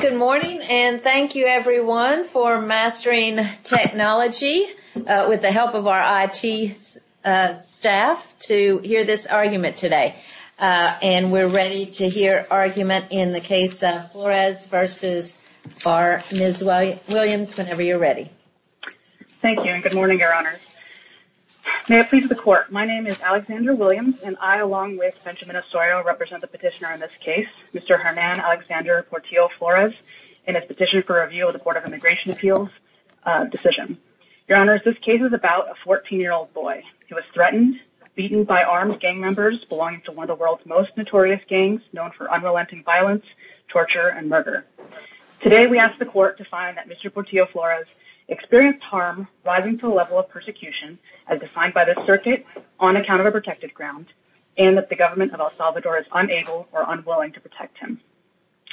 Good morning, and thank you everyone for mastering technology with the help of our IT staff to hear this argument today. And we're ready to hear argument in the case of Flores v. Barr. Ms. Williams, whenever you're ready. Thank you and good morning, Your Honor. May it please the court. My name is Alexandra Williams, and I, along with Benjamin Osorio, represent the petitioner in this case, Mr. Hernan Alexander Portillo Flores, in his petition for review of the Court of Immigration Appeals decision. Your Honor, this case is about a 14-year-old boy who was threatened, beaten by armed gang members belonging to one of the world's most notorious gangs known for unrelenting violence, torture, and murder. Today, we ask the court to find that Mr. Portillo Flores experienced harm rising to a level of persecution, as defined by the circuit, on account of a protected ground, and that the government of El Salvador is unable or unwilling to protect him.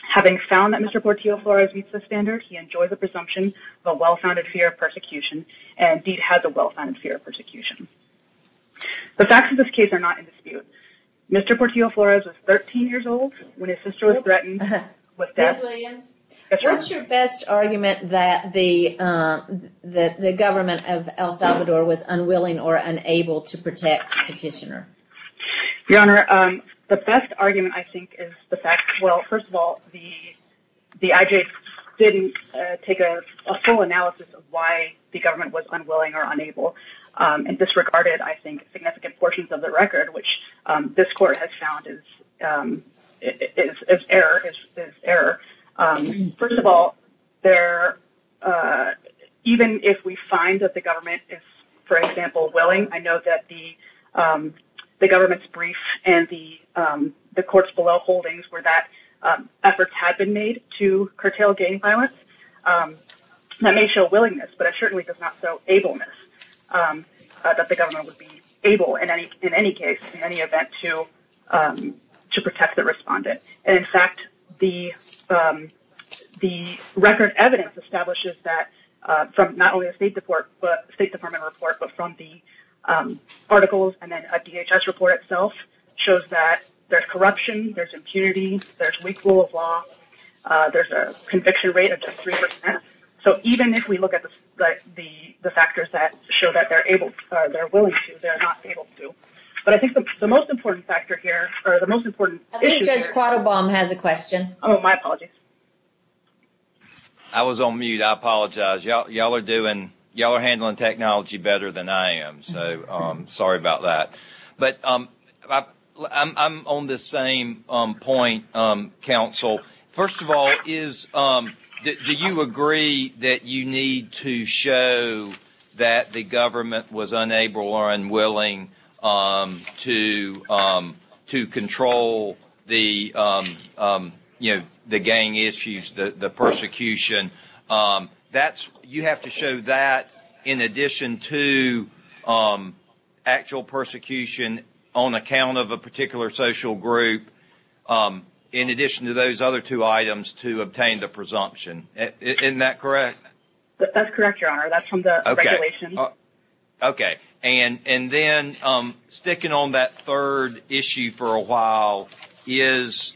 Having found that Mr. Portillo Flores meets the standard, he enjoys a presumption of a well-founded fear of persecution, and indeed has a well-founded fear of persecution. The facts of this case are not in dispute. Mr. Portillo Flores was 13 years old when his sister was threatened with death. Ms. Williams, what's your best argument that the government of El Salvador was unwilling or unable to protect the petitioner? Your Honor, the best argument, I think, is the fact, well, first of all, the IJ didn't take a full analysis of why the government was unwilling or unable, and disregarded, I think, significant portions of the record, which this court has found is error. First of all, even if we find that the government is, for example, willing, I know that the government's brief and the court's below holdings where that effort had been made to curtail gang violence, that may show willingness, but it certainly does not show ableness, that the government would be able, in any case, in any event, to protect the respondent. In fact, the record evidence establishes that, from not only a State Department report, but from the articles, and then a DHS report itself, shows that there's corruption, there's impunity, there's weak rule of law, there's a conviction rate of just 3%. So, even if we look at the factors that show that they're willing to, they're not able to. But I think the most important issue here— I was on mute, I apologize. Y'all are handling technology better than I am, so sorry about that. But I'm on the same point, counsel. First of all, do you agree that you need to show that the government was unable or unwilling to control the gang issues, the persecution? You have to show that in addition to actual persecution on account of a particular social group, in addition to those other two items to obtain the presumption. Isn't that correct? That's correct, Your Honor. That's from the regulations. Okay. And then, sticking on that third issue for a while, is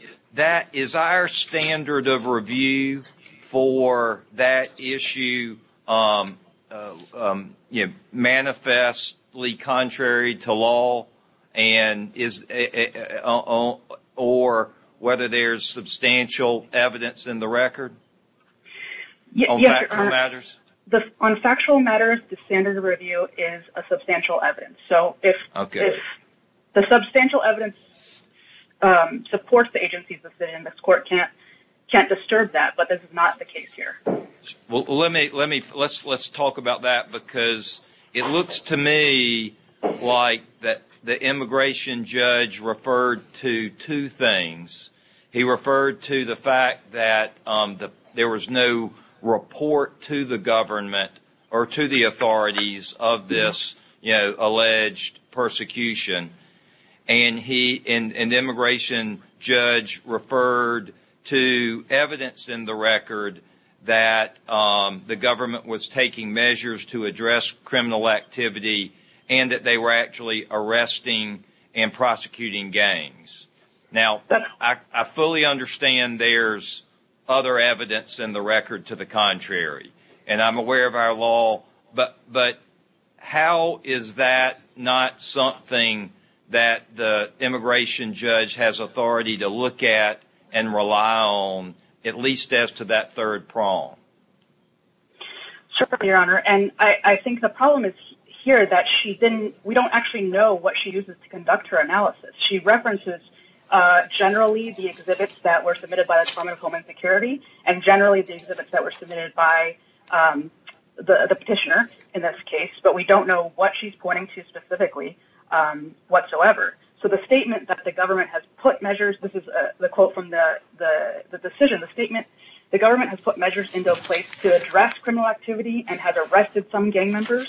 our standard of review for that issue manifestly contrary to law, or whether there's substantial evidence in the record? On factual matters? On factual matters, the standard of review is a substantial evidence. So, if the substantial evidence supports the agencies listed in this court, can't disturb that. But this is not the case here. Well, let's talk about that, because it looks to me like the immigration judge referred to two things. He referred to the fact that there was no report to the government or to the authorities of this alleged persecution. And the immigration judge referred to evidence in the record that the government was taking measures to address criminal activity and that they were actually arresting and prosecuting gangs. Now, I fully understand there's other evidence in the record to the contrary, and I'm aware of our law, but how is that not something that the immigration judge has authority to look at and rely on, at least as to that third prong? Certainly, Your Honor. And I think the problem is here that we don't actually know what she uses to conduct her analysis. She references generally the exhibits that were submitted by the Department of Homeland Security and generally the exhibits that were submitted by the petitioner in this case, but we don't know what she's pointing to specifically whatsoever. So the statement that the government has put measures – this is the quote from the decision, the statement – the government has put measures into place to address criminal activity and has arrested some gang members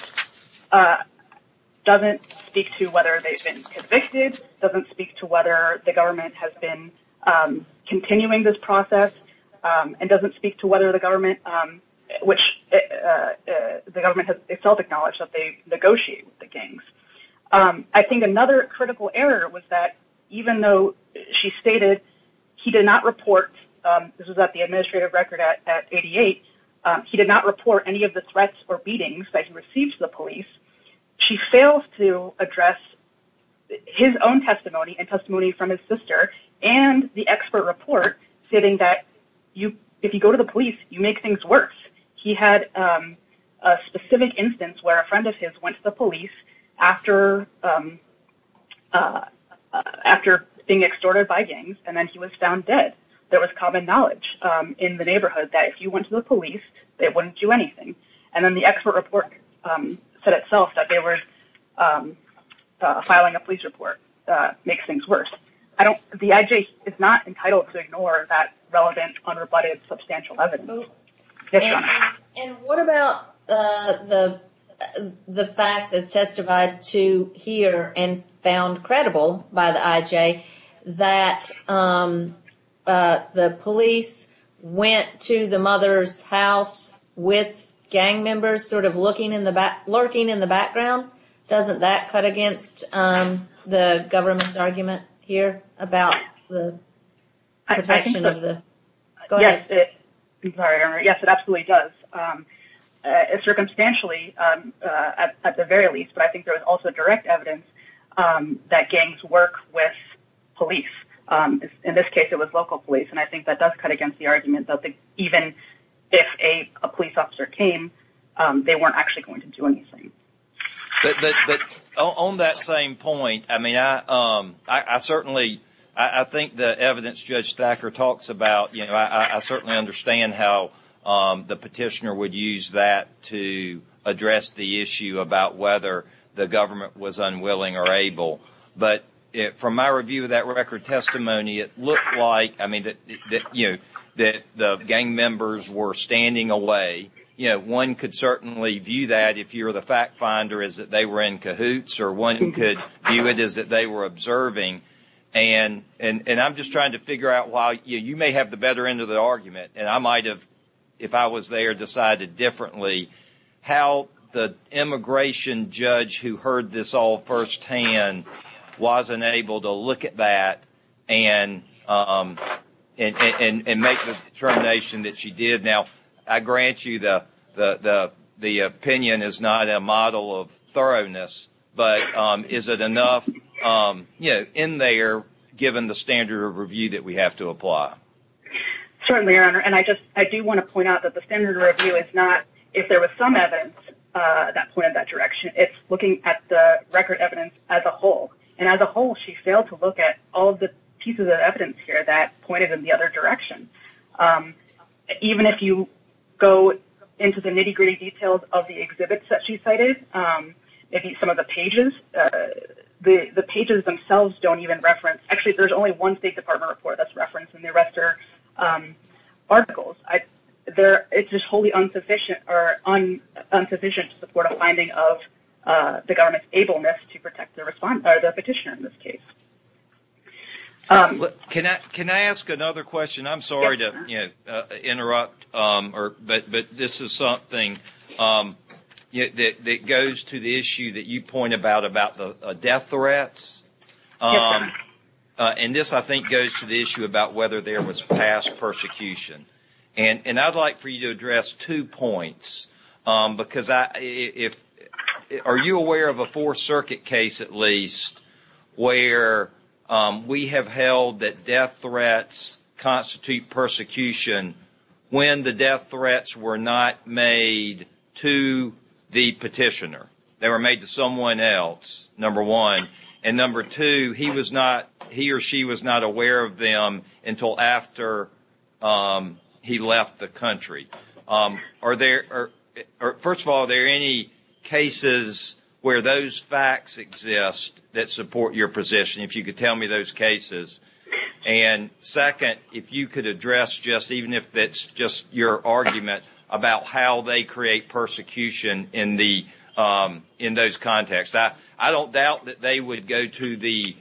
doesn't speak to whether they've been convicted, doesn't speak to whether the government has been continuing this process, and doesn't speak to whether the government – which the government has itself acknowledged that they've negotiated with the gangs. I think another critical error was that even though she stated he did not report – this was at the administrative record at 88 – he did not report any of the threats or beatings that he received to the police, she fails to address his own testimony and testimony from his sister and the expert report stating that if you go to the police, you make things worse. He had a specific instance where a friend of his went to the police after being extorted by gangs and then he was found dead. There was common knowledge in the neighborhood that if you went to the police, they wouldn't do anything. And then the expert report said itself that they were filing a police report makes things worse. The IJ is not entitled to ignore that relevant, unrebutted, substantial evidence. And what about the fact that's testified to here and found credible by the IJ that the police went to the mother's house with gang members sort of lurking in the background? Doesn't that cut against the government's argument here about the protection of the – go ahead. Yes, it absolutely does. Circumstantially, at the very least. But I think there was also direct evidence that gangs work with police. In this case, it was local police. And I think that does cut against the argument that even if a police officer came, they weren't actually going to do anything. But on that same point, I mean, I certainly – I think the evidence Judge Thacker talks about, you know, I certainly understand how the petitioner would use that to address the issue about whether the government was unwilling or able. But from my review of that record testimony, it looked like, I mean, that, you know, that the gang members were standing away. You know, one could certainly view that if you're the fact finder is that they were in cahoots or one could view it as that they were observing. And I'm just trying to figure out why – you may have the better end of the argument, and I might have, if I was there, decided differently how the immigration judge who heard this all firsthand wasn't able to look at that and make the determination that she did. Now, I grant you the opinion is not a model of thoroughness, but is it enough, you know, in there given the standard of review that we have to apply? Certainly, Your Honor. And I just – I do want to point out that the standard of review is not if there was some evidence that pointed that direction. It's looking at the record evidence as a whole. And as a whole, she failed to look at all the pieces of evidence here that pointed in the other direction. Even if you go into the nitty-gritty details of the exhibits that she cited, maybe some of the pages, the pages themselves don't even reference – actually, there's only one State Department report that's referenced, and the rest are articles. It's just wholly insufficient to support a finding of the government's ableness to protect their petitioner in this case. Can I ask another question? I'm sorry to interrupt, but this is something that goes to the issue that you point about, about the death threats. And this, I think, goes to the issue about whether there was past persecution. And I'd like for you to address two points, because I – if – are you aware of a Fourth Circuit case, at least, where we have held that death threats constitute persecution when the death threats were not made to the petitioner? They were made to someone else, number one. And number two, he was not – he or she was not aware of them until after he left the country. Are there – first of all, are there any cases where those facts exist that support your position, if you could tell me those cases? And second, if you could address just – even if that's just your argument about how they create persecution in the – in those contexts. I don't doubt that they would go to the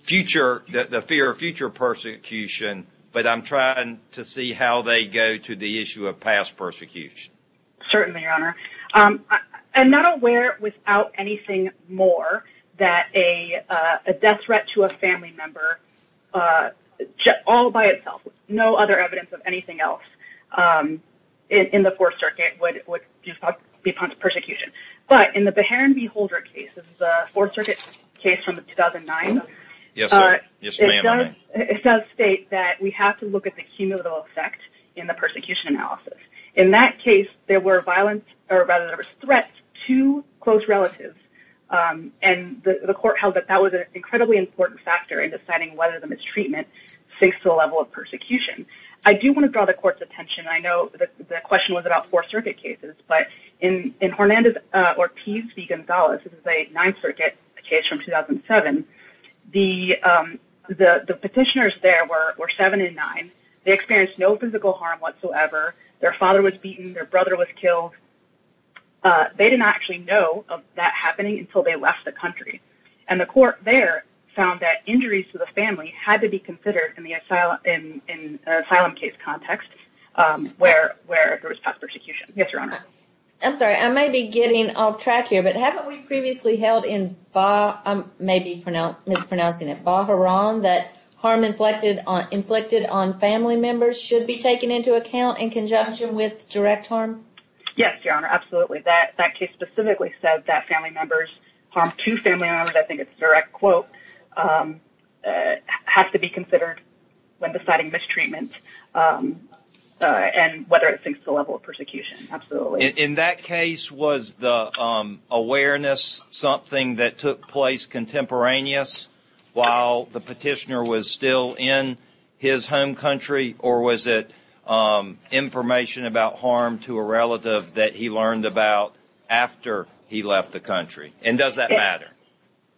future – the fear of future persecution, but I'm trying to see how they go to the issue of past persecution. Certainly, Your Honor. I'm not aware, without anything more, that a death threat to a family member, all by itself, with no other evidence of anything else in the Fourth Circuit, would be part of persecution. But in the Beharin v. Holder case, the Fourth Circuit case from 2009, it does state that we have to look at the cumulative effect in the persecution analysis. In that case, there were violent – or rather, there were threats to close relatives, and the court held that that was an incredibly important factor in deciding whether the mistreatment syncs to the level of persecution. I do want to draw the court's attention – I know the question was about Fourth Circuit cases, but in Hernández Ortiz v. González – this is a Ninth Circuit case from 2007 – the petitioners there were seven and nine. They experienced no physical harm whatsoever. Their father was beaten. Their brother was killed. They did not actually know of that happening until they left the country, and the court there found that injuries to the family had to be considered in the asylum case context, where there was past persecution. Yes, Your Honor. I'm sorry, I may be getting off track here, but haven't we previously held in Beharin that harm inflicted on family members should be taken into account in conjunction with direct harm? Yes, Your Honor, absolutely. That case specifically said that family members – harm to family members – I think it's a direct quote – has to be considered when deciding mistreatment and whether it syncs to the level of persecution. Absolutely. In that case, was the awareness something that took place contemporaneous while the petitioner was still in his home country, or was it information about harm to a relative that he learned about after he left the country? And does that matter?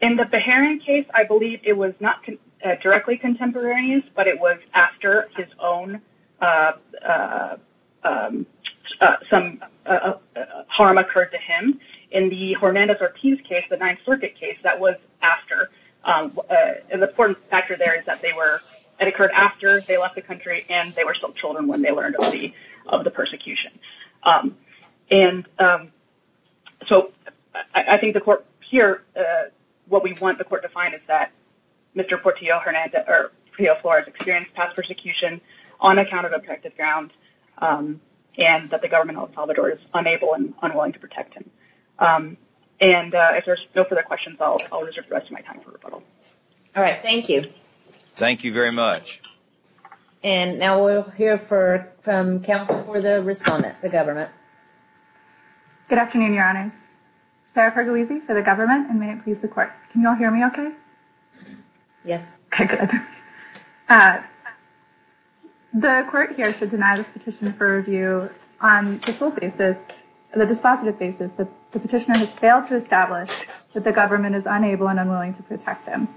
In the Beharin case, I believe it was not directly contemporaneous, but it was after some harm occurred to him. In the Hernandez-Ortiz case, the Ninth Circuit case, that was after. And the important factor there is that it occurred after they left the country, and they were still children when they learned of the persecution. And so, I think the court – here, what we want the court to find is that Mr. Portillo-Flores experienced past persecution on account of objective grounds, and that the government of El Salvador is unable and unwilling to protect him. And if there's no further questions, I'll reserve the rest of my time for rebuttal. All right, thank you. Thank you very much. And now we'll hear from counsel for the respondent, the government. Good afternoon, Your Honors. Sarah Fergalisi for the government, and may it please the court. Can you all hear me okay? Yes. Okay, good. The court here should deny this petition for review on the sole basis – the dispositive basis that the petitioner has failed to establish that the government is unable and unwilling to protect him.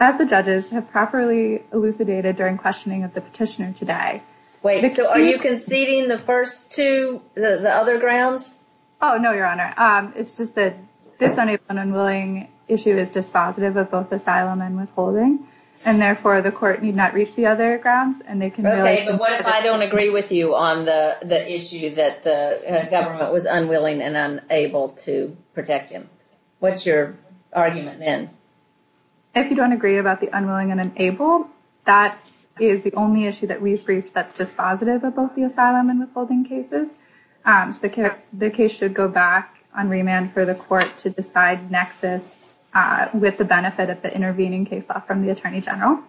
As the judges have properly elucidated during questioning of the petitioner today – Wait, so are you conceding the first two, the other grounds? Oh, no, Your Honor. It's just that this unable and unwilling issue is dispositive of both asylum and withholding, and therefore the court need not reach the other grounds. Okay, but what if I don't agree with you on the issue that the government was unwilling and unable to protect him? What's your argument then? If you don't agree about the unwilling and unable, that is the only issue that we've briefed that's dispositive of both the asylum and withholding cases. The case should go back on remand for the court to decide nexus with the benefit of the intervening case law from the Attorney General.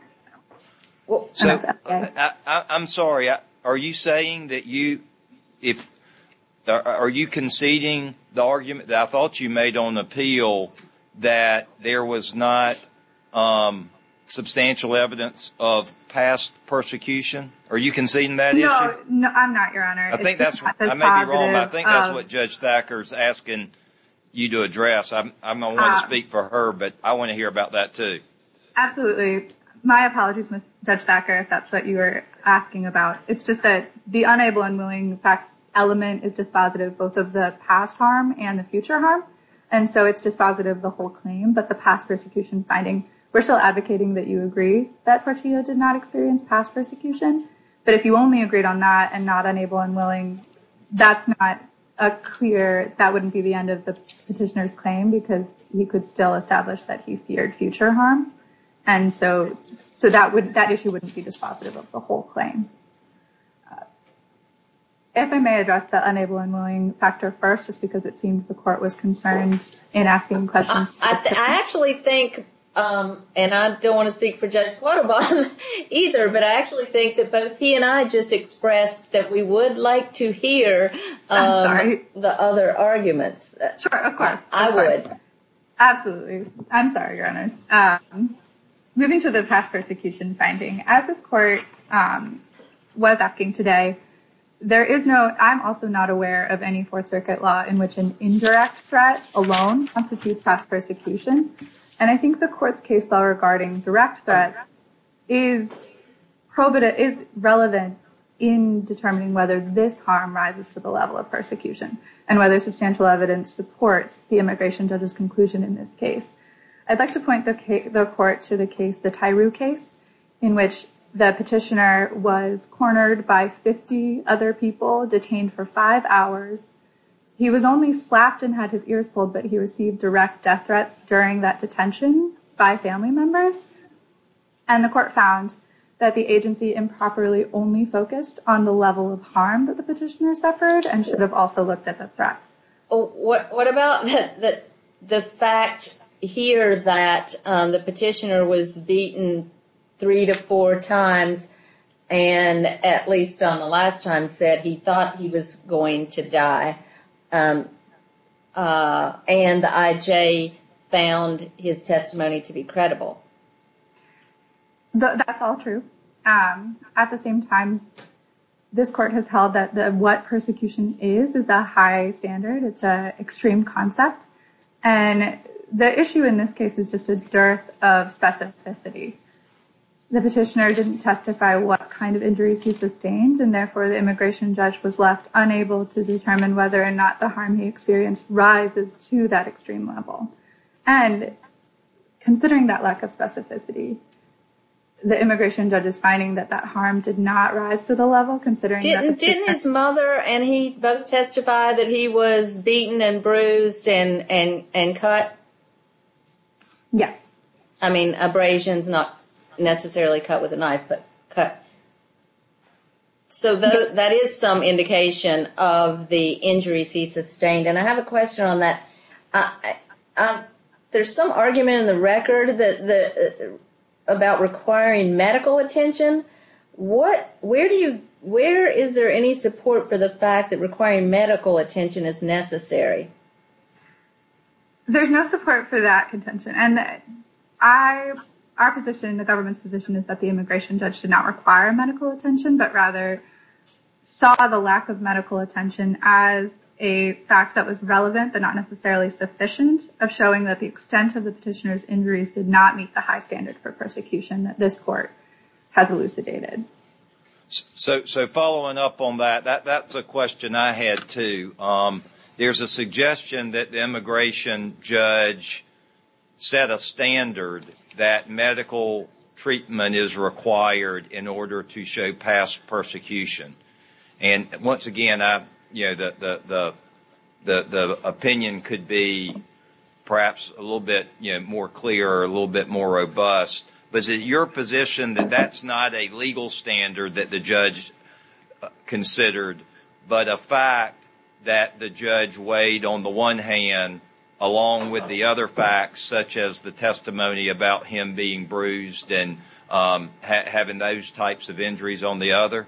I'm sorry, are you saying that you – are you conceding the argument that I thought you made on appeal that there was not substantial evidence of past persecution? Are you conceding that issue? No, I'm not, Your Honor. I may be wrong, but I think that's what Judge Thacker's asking you to address. I don't want to speak for her, but I want to hear about that too. Absolutely. My apologies, Judge Thacker, if that's what you were asking about. It's just that the unable and unwilling element is dispositive both of the past harm and the future harm. And so it's dispositive of the whole claim, but the past persecution finding, we're still advocating that you agree that Portillo did not experience past persecution. But if you only agreed on that and not unable and unwilling, that's not a clear – that wouldn't be the end of the petitioner's claim because he could still establish that he feared future harm. And so that issue wouldn't be dispositive of the whole claim. If I may address the unable and unwilling factor first, just because it seems the court was concerned in asking questions. I actually think, and I don't want to speak for Judge Quattrobon either, but I actually think that both he and I just expressed that we would like to hear the other arguments. I'm sorry. Sure, of course. I would. Just to note, I'm also not aware of any Fourth Circuit law in which an indirect threat alone constitutes past persecution. And I think the court's case law regarding direct threat is relevant in determining whether this harm rises to the level of persecution and whether substantial evidence supports the immigration judge's conclusion in this case. I'd like to point the court to the case, the Tyreux case, in which the petitioner was cornered by 50 other people, detained for five hours. He was only slapped and had his ears pulled, but he received direct death threats during that detention by family members. And the court found that the agency improperly only focused on the level of harm that the petitioner suffered and should have also looked at the threats. What about the fact here that the petitioner was beaten three to four times, and at least on the last time said he thought he was going to die, and the IJ found his testimony to be credible? That's all true. At the same time, this court has held that what persecution is is a high standard. It's an extreme concept. And the issue in this case is just a dearth of specificity. The petitioner didn't testify what kind of injuries he sustained, and therefore the immigration judge was left unable to determine whether or not the harm he experienced rises to that extreme level. And considering that lack of specificity, the immigration judge is finding that that harm did not rise to the level, considering that the petitioner... Didn't his mother and he both testify that he was beaten and bruised and cut? Yes. I mean, abrasions, not necessarily cut with a knife, but cut. So that is some indication of the injuries he sustained. And I have a question on that. There's some argument in the record about requiring medical attention. Where is there any support for the fact that requiring medical attention is necessary? There's no support for that contention. Our position, the government's position, is that the immigration judge did not require medical attention, but rather saw the lack of medical attention as a fact that was relevant but not necessarily sufficient of showing that the extent of the petitioner's injuries did not meet the high standard for persecution that this court has elucidated. So following up on that, that's a question I had, too. There's a suggestion that the immigration judge set a standard that medical treatment is required in order to show past persecution. And once again, the opinion could be perhaps a little bit more clear or a little bit more robust. But is it your position that that's not a legal standard that the judge considered, but a fact that the judge weighed on the one hand, along with the other facts, such as the testimony about him being bruised and having those types of injuries on the other?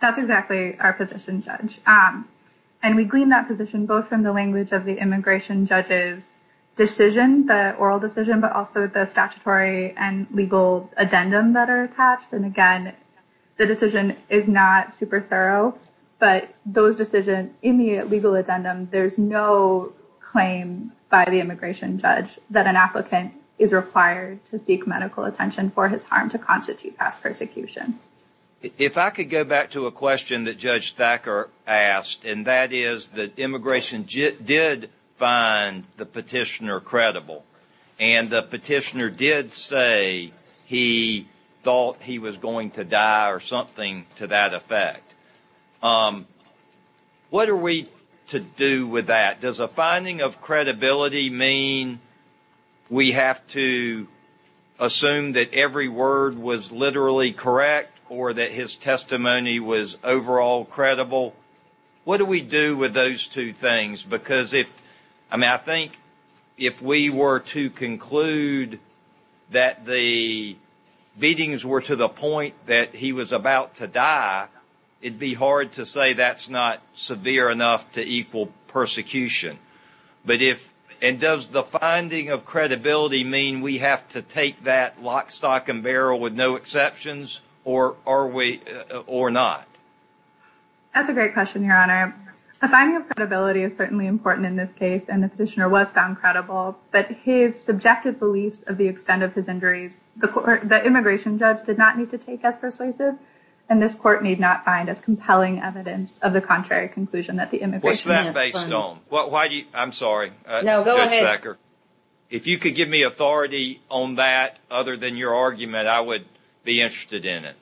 That's exactly our position, Judge. And we glean that position both from the language of the immigration judge's decision, the oral decision, but also the statutory and legal addendum that are attached. And again, the decision is not super thorough, but those decisions in the legal addendum, there's no claim by the immigration judge that an applicant is required to seek medical attention for his harm to constitute past persecution. If I could go back to a question that Judge Thacker asked, and that is that immigration did find the petitioner credible. And the petitioner did say he thought he was going to die or something to that effect. What are we to do with that? Does a finding of credibility mean we have to assume that every word was literally correct or that his testimony was overall credible? What do we do with those two things? Because if – I mean, I think if we were to conclude that the beatings were to the point that he was about to die, it would be hard to say that's not severe enough to equal persecution. But if – and does the finding of credibility mean we have to take that lock, stock, and barrel with no exceptions, or are we – or not? That's a great question, Your Honor. A finding of credibility is certainly important in this case, and the petitioner was found credible. But his subjective beliefs of the extent of his injuries, the immigration judge did not need to take as persuasive, and this court need not find as compelling evidence of the contrary conclusion that the immigration judge found. What's that based on? Why do you – I'm sorry, Judge Thacker. No, go ahead. If you could give me authority on that other than your argument, I would be interested in it.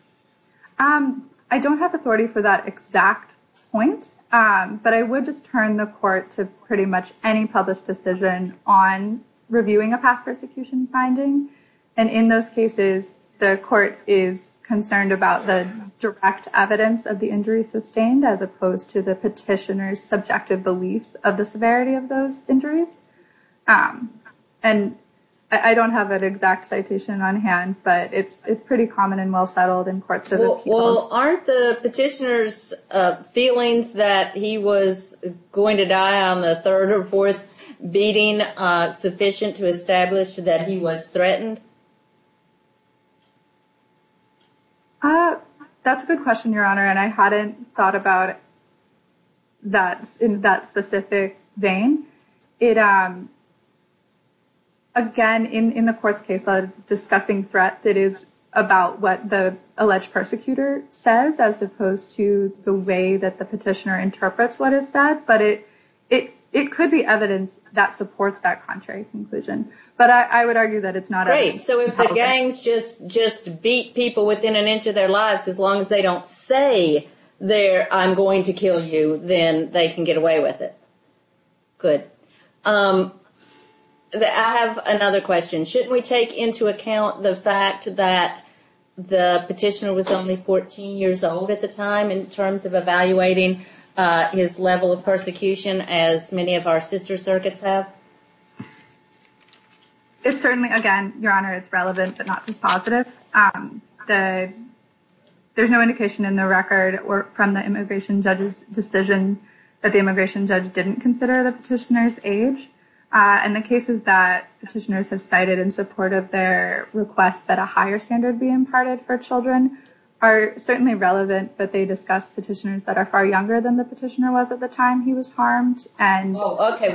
I don't have authority for that exact point, but I would just turn the court to pretty much any published decision on reviewing a past persecution finding. And in those cases, the court is concerned about the direct evidence of the injuries sustained as opposed to the petitioner's subjective beliefs of the severity of those injuries. And I don't have an exact citation on hand, but it's pretty common and well settled in courts of appeals. Well, aren't the petitioner's feelings that he was going to die on the third or fourth beating sufficient to establish that he was threatened? That's a good question, Your Honor, and I hadn't thought about that in that specific vein. It – again, in the court's case, discussing threats, it is about what the alleged persecutor says as opposed to the way that the petitioner interprets what is said. But it could be evidence that supports that contrary conclusion. But I would argue that it's not evidence. Great. So if the gangs just beat people within an inch of their lives, as long as they don't say, I'm going to kill you, then they can get away with it. Good. I have another question. Shouldn't we take into account the fact that the petitioner was only 14 years old at the time in terms of evaluating his level of persecution, as many of our sister circuits have? It's certainly – again, Your Honor, it's relevant, but not just positive. There's no indication in the record from the immigration judge's decision that the immigration judge didn't consider the petitioner's age. And the cases that petitioners have cited in support of their request that a higher standard be imparted for children are certainly relevant, but they discuss petitioners that are far younger than the petitioner was at the time he was harmed. Oh, okay.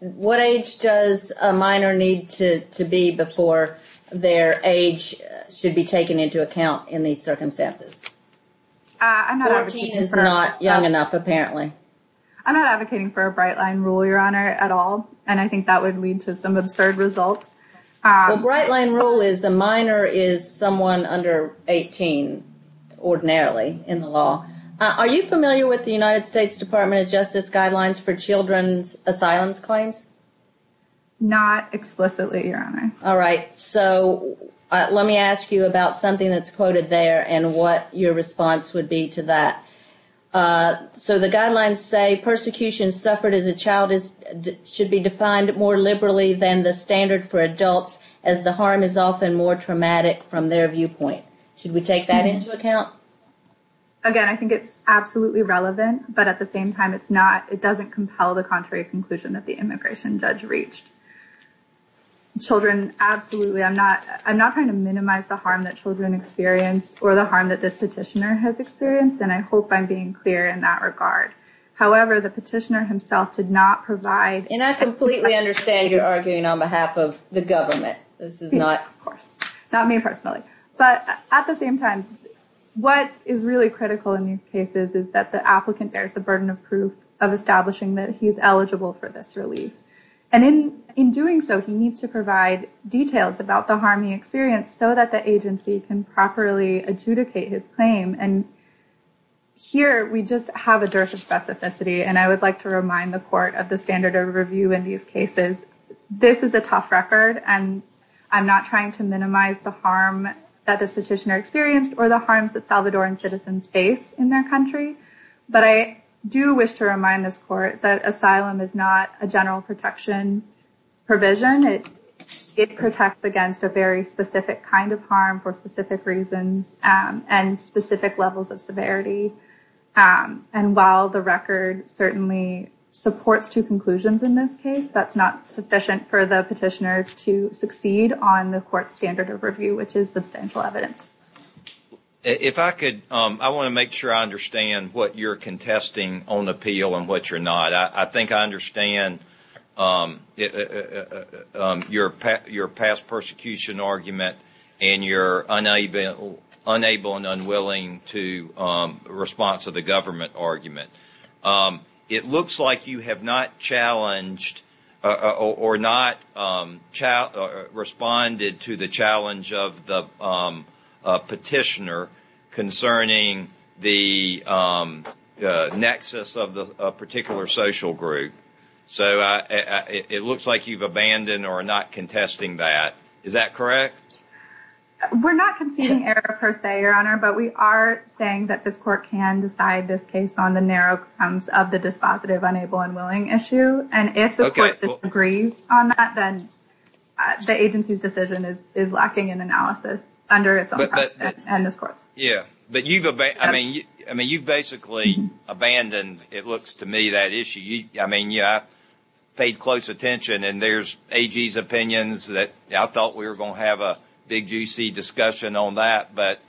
What age does a minor need to be before their age should be taken into account in these circumstances? 14 is not young enough, apparently. I'm not advocating for a Bright Line rule, Your Honor, at all, and I think that would lead to some absurd results. Well, Bright Line rule is a minor is someone under 18 ordinarily in the law. Are you familiar with the United States Department of Justice guidelines for children's asylum claims? Not explicitly, Your Honor. All right. So let me ask you about something that's quoted there and what your response would be to that. So the guidelines say persecution suffered as a child should be defined more liberally than the standard for adults, as the harm is often more traumatic from their viewpoint. Should we take that into account? Again, I think it's absolutely relevant. But at the same time, it's not it doesn't compel the contrary conclusion that the immigration judge reached. Children, absolutely. I'm not I'm not trying to minimize the harm that children experience or the harm that this petitioner has experienced. And I hope I'm being clear in that regard. However, the petitioner himself did not provide. And I completely understand you're arguing on behalf of the government. This is not, of course, not me personally. But at the same time, what is really critical in these cases is that the applicant bears the burden of proof of establishing that he is eligible for this relief. And in in doing so, he needs to provide details about the harm he experienced so that the agency can properly adjudicate his claim. And here we just have a dearth of specificity. And I would like to remind the court of the standard of review in these cases. This is a tough record and I'm not trying to minimize the harm that this petitioner experienced or the harms that Salvadoran citizens face in their country. But I do wish to remind this court that asylum is not a general protection provision. It protects against a very specific kind of harm for specific reasons and specific levels of severity. And while the record certainly supports two conclusions in this case, that's not sufficient for the petitioner to succeed on the court standard of review, which is substantial evidence. If I could, I want to make sure I understand what you're contesting on appeal and what you're not. I think I understand your past persecution argument and your unable and unwilling response to the government argument. It looks like you have not challenged or not responded to the challenge of the petitioner concerning the nexus of the particular social group. So it looks like you've abandoned or not contesting that. Is that correct? We're not conceding error per se, Your Honor. But we are saying that this court can decide this case on the narrow terms of the dispositive, unable, and willing issue. And if the court agrees on that, then the agency's decision is lacking in analysis under its own precedent and this court's. Yeah, but you've basically abandoned, it looks to me, that issue. I mean, I paid close attention and there's AG's opinions that I thought we were going to have a big, juicy discussion on that. But,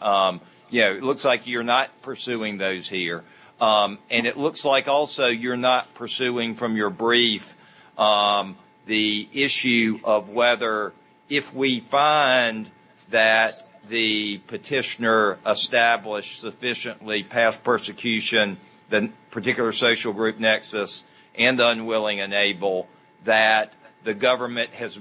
you know, it looks like you're not pursuing those here. And it looks like also you're not pursuing from your brief the issue of whether if we find that the petitioner established sufficiently past persecution, the particular social group nexus, and the unwilling and able, that the government has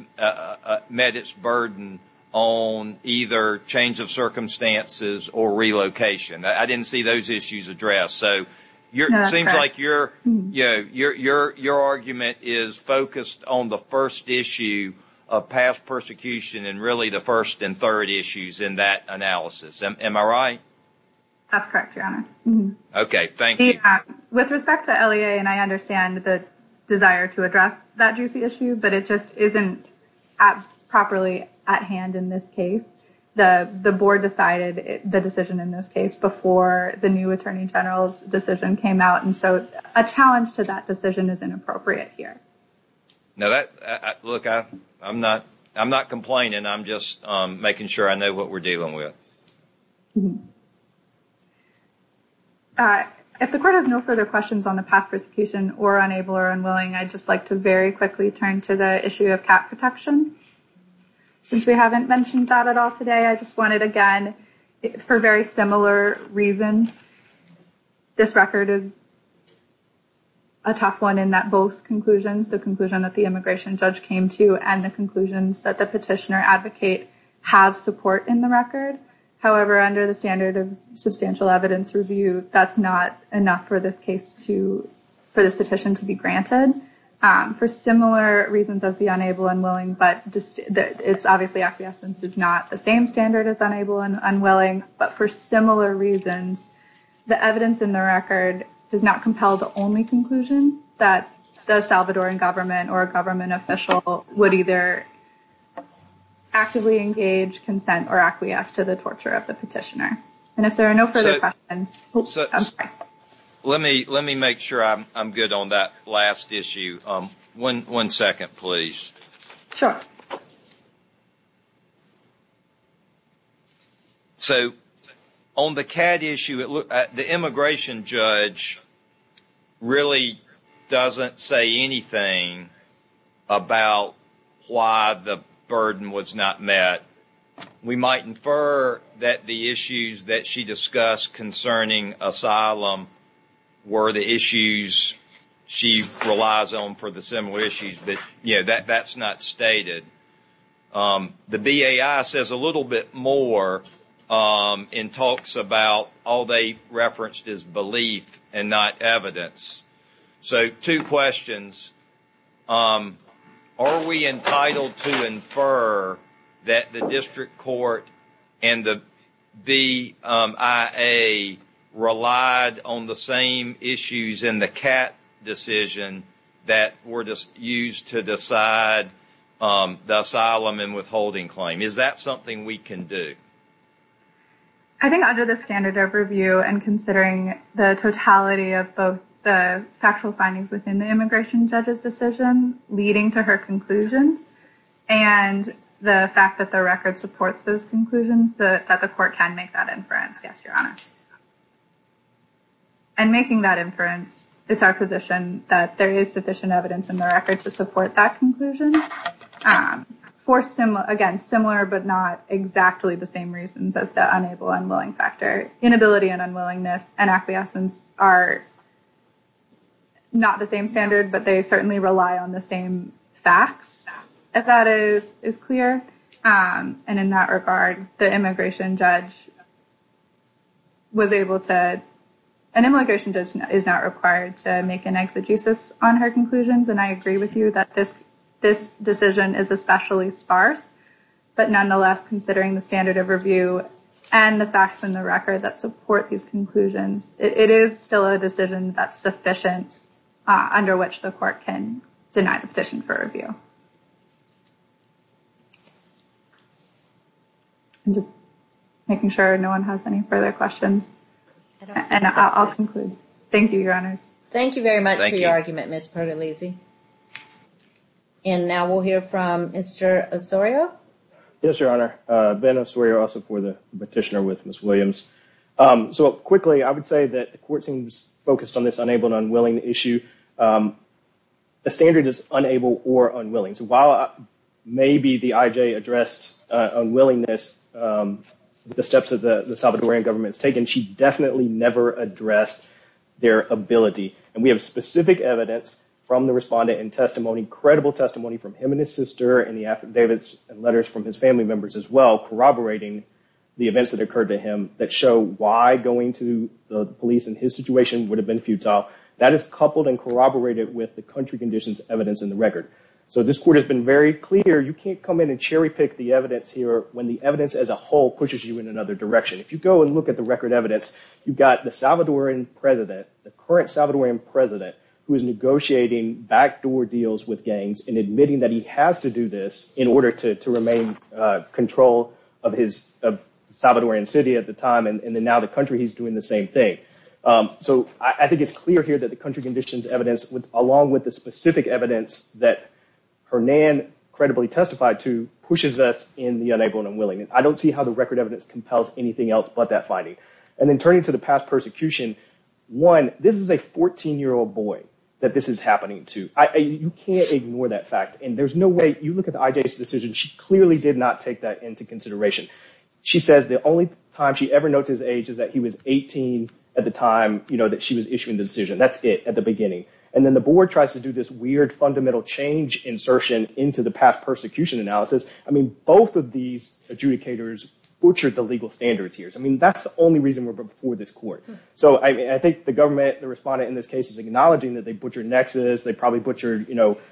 met its burden on either change of circumstances or relocation. I didn't see those issues addressed. So it seems like your argument is focused on the first issue of past persecution and really the first and third issues in that analysis. Am I right? That's correct, Your Honor. Okay, thank you. With respect to LEA, and I understand the desire to address that juicy issue, but it just isn't properly at hand in this case. The board decided the decision in this case before the new attorney general's decision came out. And so a challenge to that decision is inappropriate here. Now, look, I'm not complaining. I'm just making sure I know what we're dealing with. If the court has no further questions on the past persecution or unable or unwilling, I'd just like to very quickly turn to the issue of cap protection. Since we haven't mentioned that at all today, I just wanted, again, for very similar reasons, this record is a tough one in that both conclusions, the conclusion that the immigration judge came to and the conclusions that the petitioner advocate have support in the record. However, under the standard of substantial evidence review, that's not enough for this case to for this petition to be granted for similar reasons as the unable and willing. But it's obviously acquiescence is not the same standard as unable and unwilling. But for similar reasons, the evidence in the record does not compel the only conclusion that the Salvadoran government or a government official would either actively engage consent or acquiesce to the torture of the petitioner. And if there are no further questions. Let me let me make sure I'm good on that last issue. One second, please. Sure. So on the cat issue, the immigration judge really doesn't say anything about why the burden was not met. We might infer that the issues that she discussed concerning asylum were the issues she relies on for the similar issues. But, you know, that that's not stated. The B.A.I. says a little bit more in talks about all they referenced is belief and not evidence. So two questions. Are we entitled to infer that the district court and the B.I.A. relied on the same issues in the cat decision that were used to decide the asylum and withholding claim? Is that something we can do? I think under the standard of review and considering the totality of both the factual findings within the immigration judge's decision leading to her conclusions and the fact that the record supports those conclusions that the court can make that inference. Yes. And making that inference, it's our position that there is sufficient evidence in the record to support that conclusion for some, again, similar but not exactly the same reasons as the unable and willing factor. Inability and unwillingness and acquiescence are. Not the same standard, but they certainly rely on the same facts. If that is is clear and in that regard, the immigration judge. Was able to an immigration judge is not required to make an exegesis on her conclusions, and I agree with you that this this decision is especially sparse. But nonetheless, considering the standard of review and the facts in the record that support these conclusions, it is still a decision that's sufficient under which the court can deny the petition for review. And just making sure no one has any further questions. And I'll conclude. Thank you, Your Honors. Thank you very much. And now we'll hear from Mr. Osorio. Yes, Your Honor. Ben Osorio, also for the petitioner with Ms. Williams. So quickly, I would say that the court seems focused on this unable and unwilling issue. The standard is unable or unwilling. So while maybe the IJ addressed unwillingness, the steps of the Salvadorian government's taken, she definitely never addressed their ability. And we have specific evidence from the respondent and testimony, credible testimony from him and his sister and the affidavits and letters from his family members as well corroborating the events that occurred to him that show why going to the police in his situation would have been futile. That is coupled and corroborated with the country conditions evidence in the record. So this court has been very clear. You can't come in and cherry pick the evidence here when the evidence as a whole pushes you in another direction. If you go and look at the record evidence, you've got the Salvadorian president, the current Salvadorian president, who is negotiating backdoor deals with gangs and admitting that he has to do this in order to remain in control of his Salvadorian city at the time. And now the country, he's doing the same thing. So I think it's clear here that the country conditions evidence, along with the specific evidence that Hernan credibly testified to, pushes us in the unable and unwilling. And I don't see how the record evidence compels anything else but that finding. And then turning to the past persecution, one, this is a 14-year-old boy that this is happening to. You can't ignore that fact. And there's no way, you look at the IJ's decision, she clearly did not take that into consideration. She says the only time she ever notes his age is that he was 18 at the time that she was issuing the decision. That's it at the beginning. And then the board tries to do this weird fundamental change insertion into the past persecution analysis. I mean, both of these adjudicators butchered the legal standards here. I mean, that's the only reason we're before this court. So I think the government, the respondent in this case, is acknowledging that they butchered nexus, they probably butchered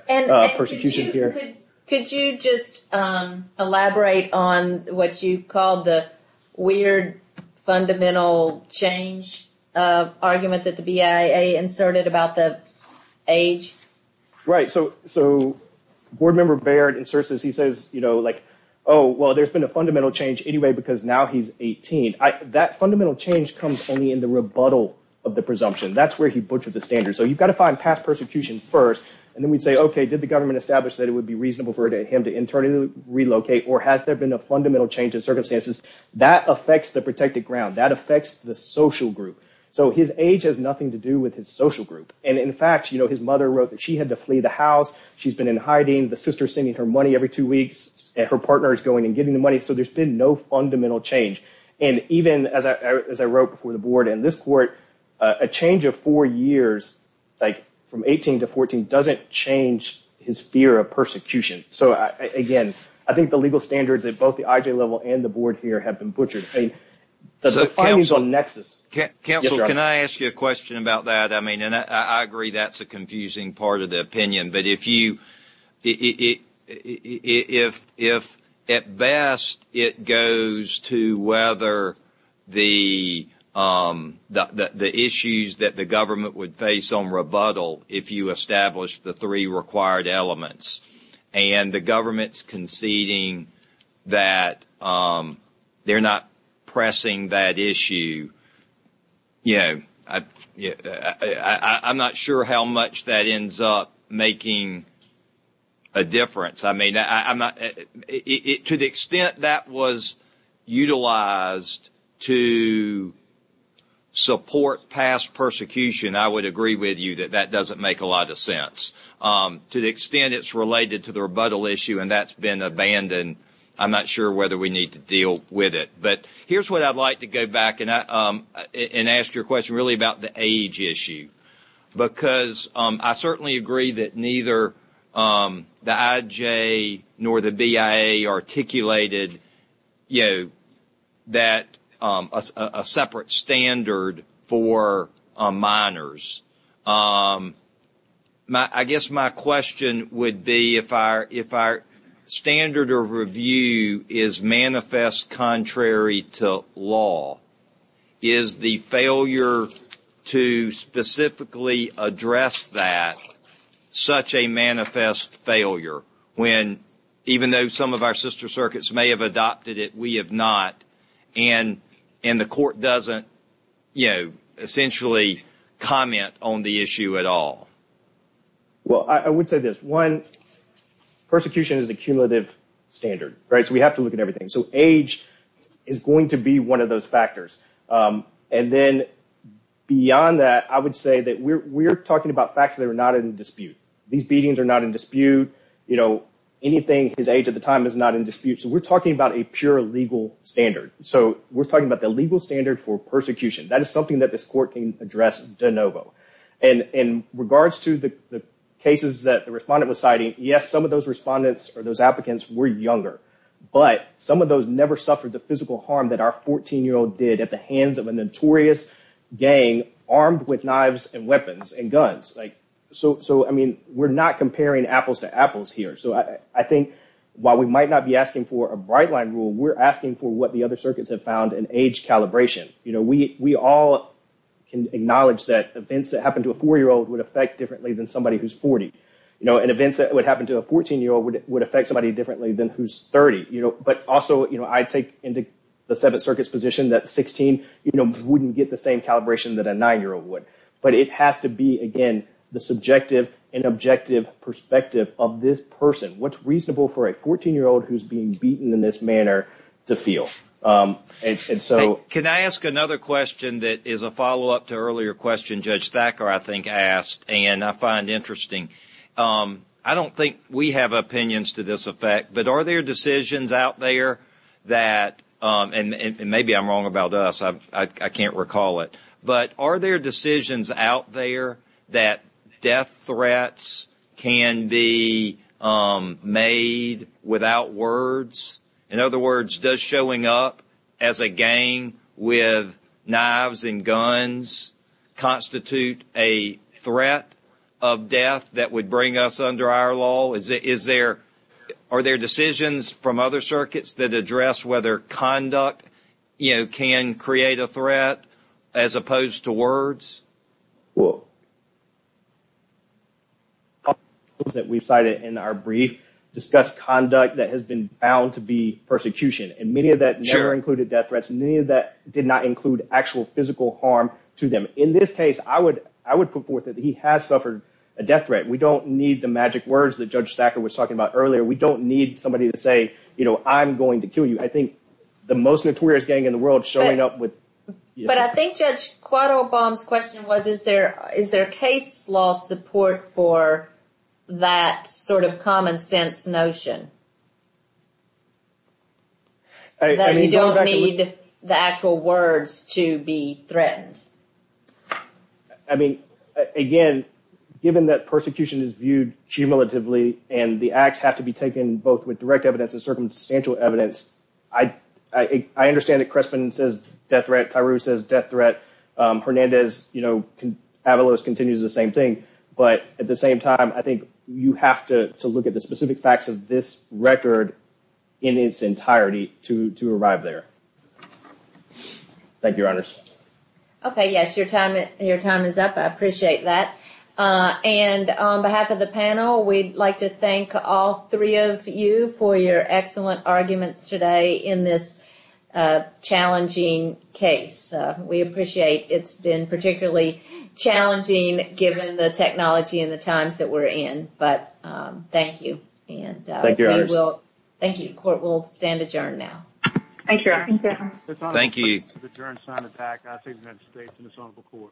persecution here. Could you just elaborate on what you called the weird fundamental change argument that the BIA inserted about the age? Right. So board member Baird inserts this. He says, you know, like, oh, well, there's been a fundamental change anyway because now he's 18. That fundamental change comes only in the rebuttal of the presumption. That's where he butchered the standards. So you've got to find past persecution first, and then we'd say, okay, did the government establish that it would be reasonable for him to internally relocate, or has there been a fundamental change in circumstances? That affects the protected ground. That affects the social group. So his age has nothing to do with his social group. And in fact, his mother wrote that she had to flee the house. She's been in hiding. The sister's sending her money every two weeks, and her partner is going and getting the money. So there's been no fundamental change. And even as I wrote before the board and this court, a change of four years, like from 18 to 14, doesn't change his fear of persecution. So again, I think the legal standards at both the IJ level and the board here have been butchered. Counsel, can I ask you a question about that? I mean, and I agree that's a confusing part of the opinion. But if at best it goes to whether the issues that the government would face on rebuttal, if you establish the three required elements, and the government's conceding that they're not pressing that issue, you know, I'm not sure how much that ends up making a difference. I mean, to the extent that was utilized to support past persecution, I would agree with you that that doesn't make a lot of sense. To the extent it's related to the rebuttal issue, and that's been abandoned, I'm not sure whether we need to deal with it. But here's what I'd like to go back and ask your question really about the age issue. Because I certainly agree that neither the IJ nor the BIA articulated, you know, that a separate standard for minors. I guess my question would be if our standard of review is manifest contrary to law, is the failure to specifically address that such a manifest failure? Even though some of our sister circuits may have adopted it, we have not. And the court doesn't, you know, essentially comment on the issue at all. Well, I would say this. One, persecution is a cumulative standard, right? So we have to look at everything. So age is going to be one of those factors. And then beyond that, I would say that we're talking about facts that are not in dispute. These beatings are not in dispute. You know, anything his age at the time is not in dispute. So we're talking about a pure legal standard. So we're talking about the legal standard for persecution. That is something that this court can address de novo. And in regards to the cases that the respondent was citing, yes, some of those respondents or those applicants were younger. But some of those never suffered the physical harm that our 14-year-old did at the hands of a notorious gang armed with knives and weapons and guns. So, I mean, we're not comparing apples to apples here. So I think while we might not be asking for a bright line rule, we're asking for what the other circuits have found in age calibration. You know, we all can acknowledge that events that happen to a 4-year-old would affect differently than somebody who's 40. You know, and events that would happen to a 14-year-old would affect somebody differently than who's 30. But also, you know, I take into the Seventh Circuit's position that 16, you know, wouldn't get the same calibration that a 9-year-old would. But it has to be, again, the subjective and objective perspective of this person. What's reasonable for a 14-year-old who's being beaten in this manner to feel? And so... Can I ask another question that is a follow-up to an earlier question Judge Thacker, I think, asked and I find interesting? I don't think we have opinions to this effect, but are there decisions out there that, and maybe I'm wrong about us, I can't recall it. But are there decisions out there that death threats can be made without words? In other words, does showing up as a gang with knives and guns constitute a threat of death that would bring us under our law? Is there, are there decisions from other circuits that address whether conduct, you know, can create a threat as opposed to words? Well... ...that we've cited in our brief discuss conduct that has been bound to be persecution. And many of that never included death threats. Many of that did not include actual physical harm to them. In this case, I would put forth that he has suffered a death threat. We don't need the magic words that Judge Thacker was talking about earlier. We don't need somebody to say, you know, I'm going to kill you. I think the most notorious gang in the world showing up with... But I think Judge Cuadalbom's question was, is there, is there case law support for that sort of common sense notion? That you don't need the actual words to be threatened. I mean, again, given that persecution is viewed cumulatively and the acts have to be taken both with direct evidence and circumstantial evidence. I, I understand that Crespin says death threat. Tyrus says death threat. Hernandez, you know, Avalos continues the same thing. But at the same time, I think you have to look at the specific facts of this record in its entirety to, to arrive there. Thank you, Your Honors. Okay, yes, your time, your time is up. I appreciate that. And on behalf of the panel, we'd like to thank all three of you for your excellent arguments today in this challenging case. We appreciate it's been particularly challenging given the technology and the times that we're in. But thank you. And thank you. Court will stand adjourned now. Thank you. Thank you. Thank you.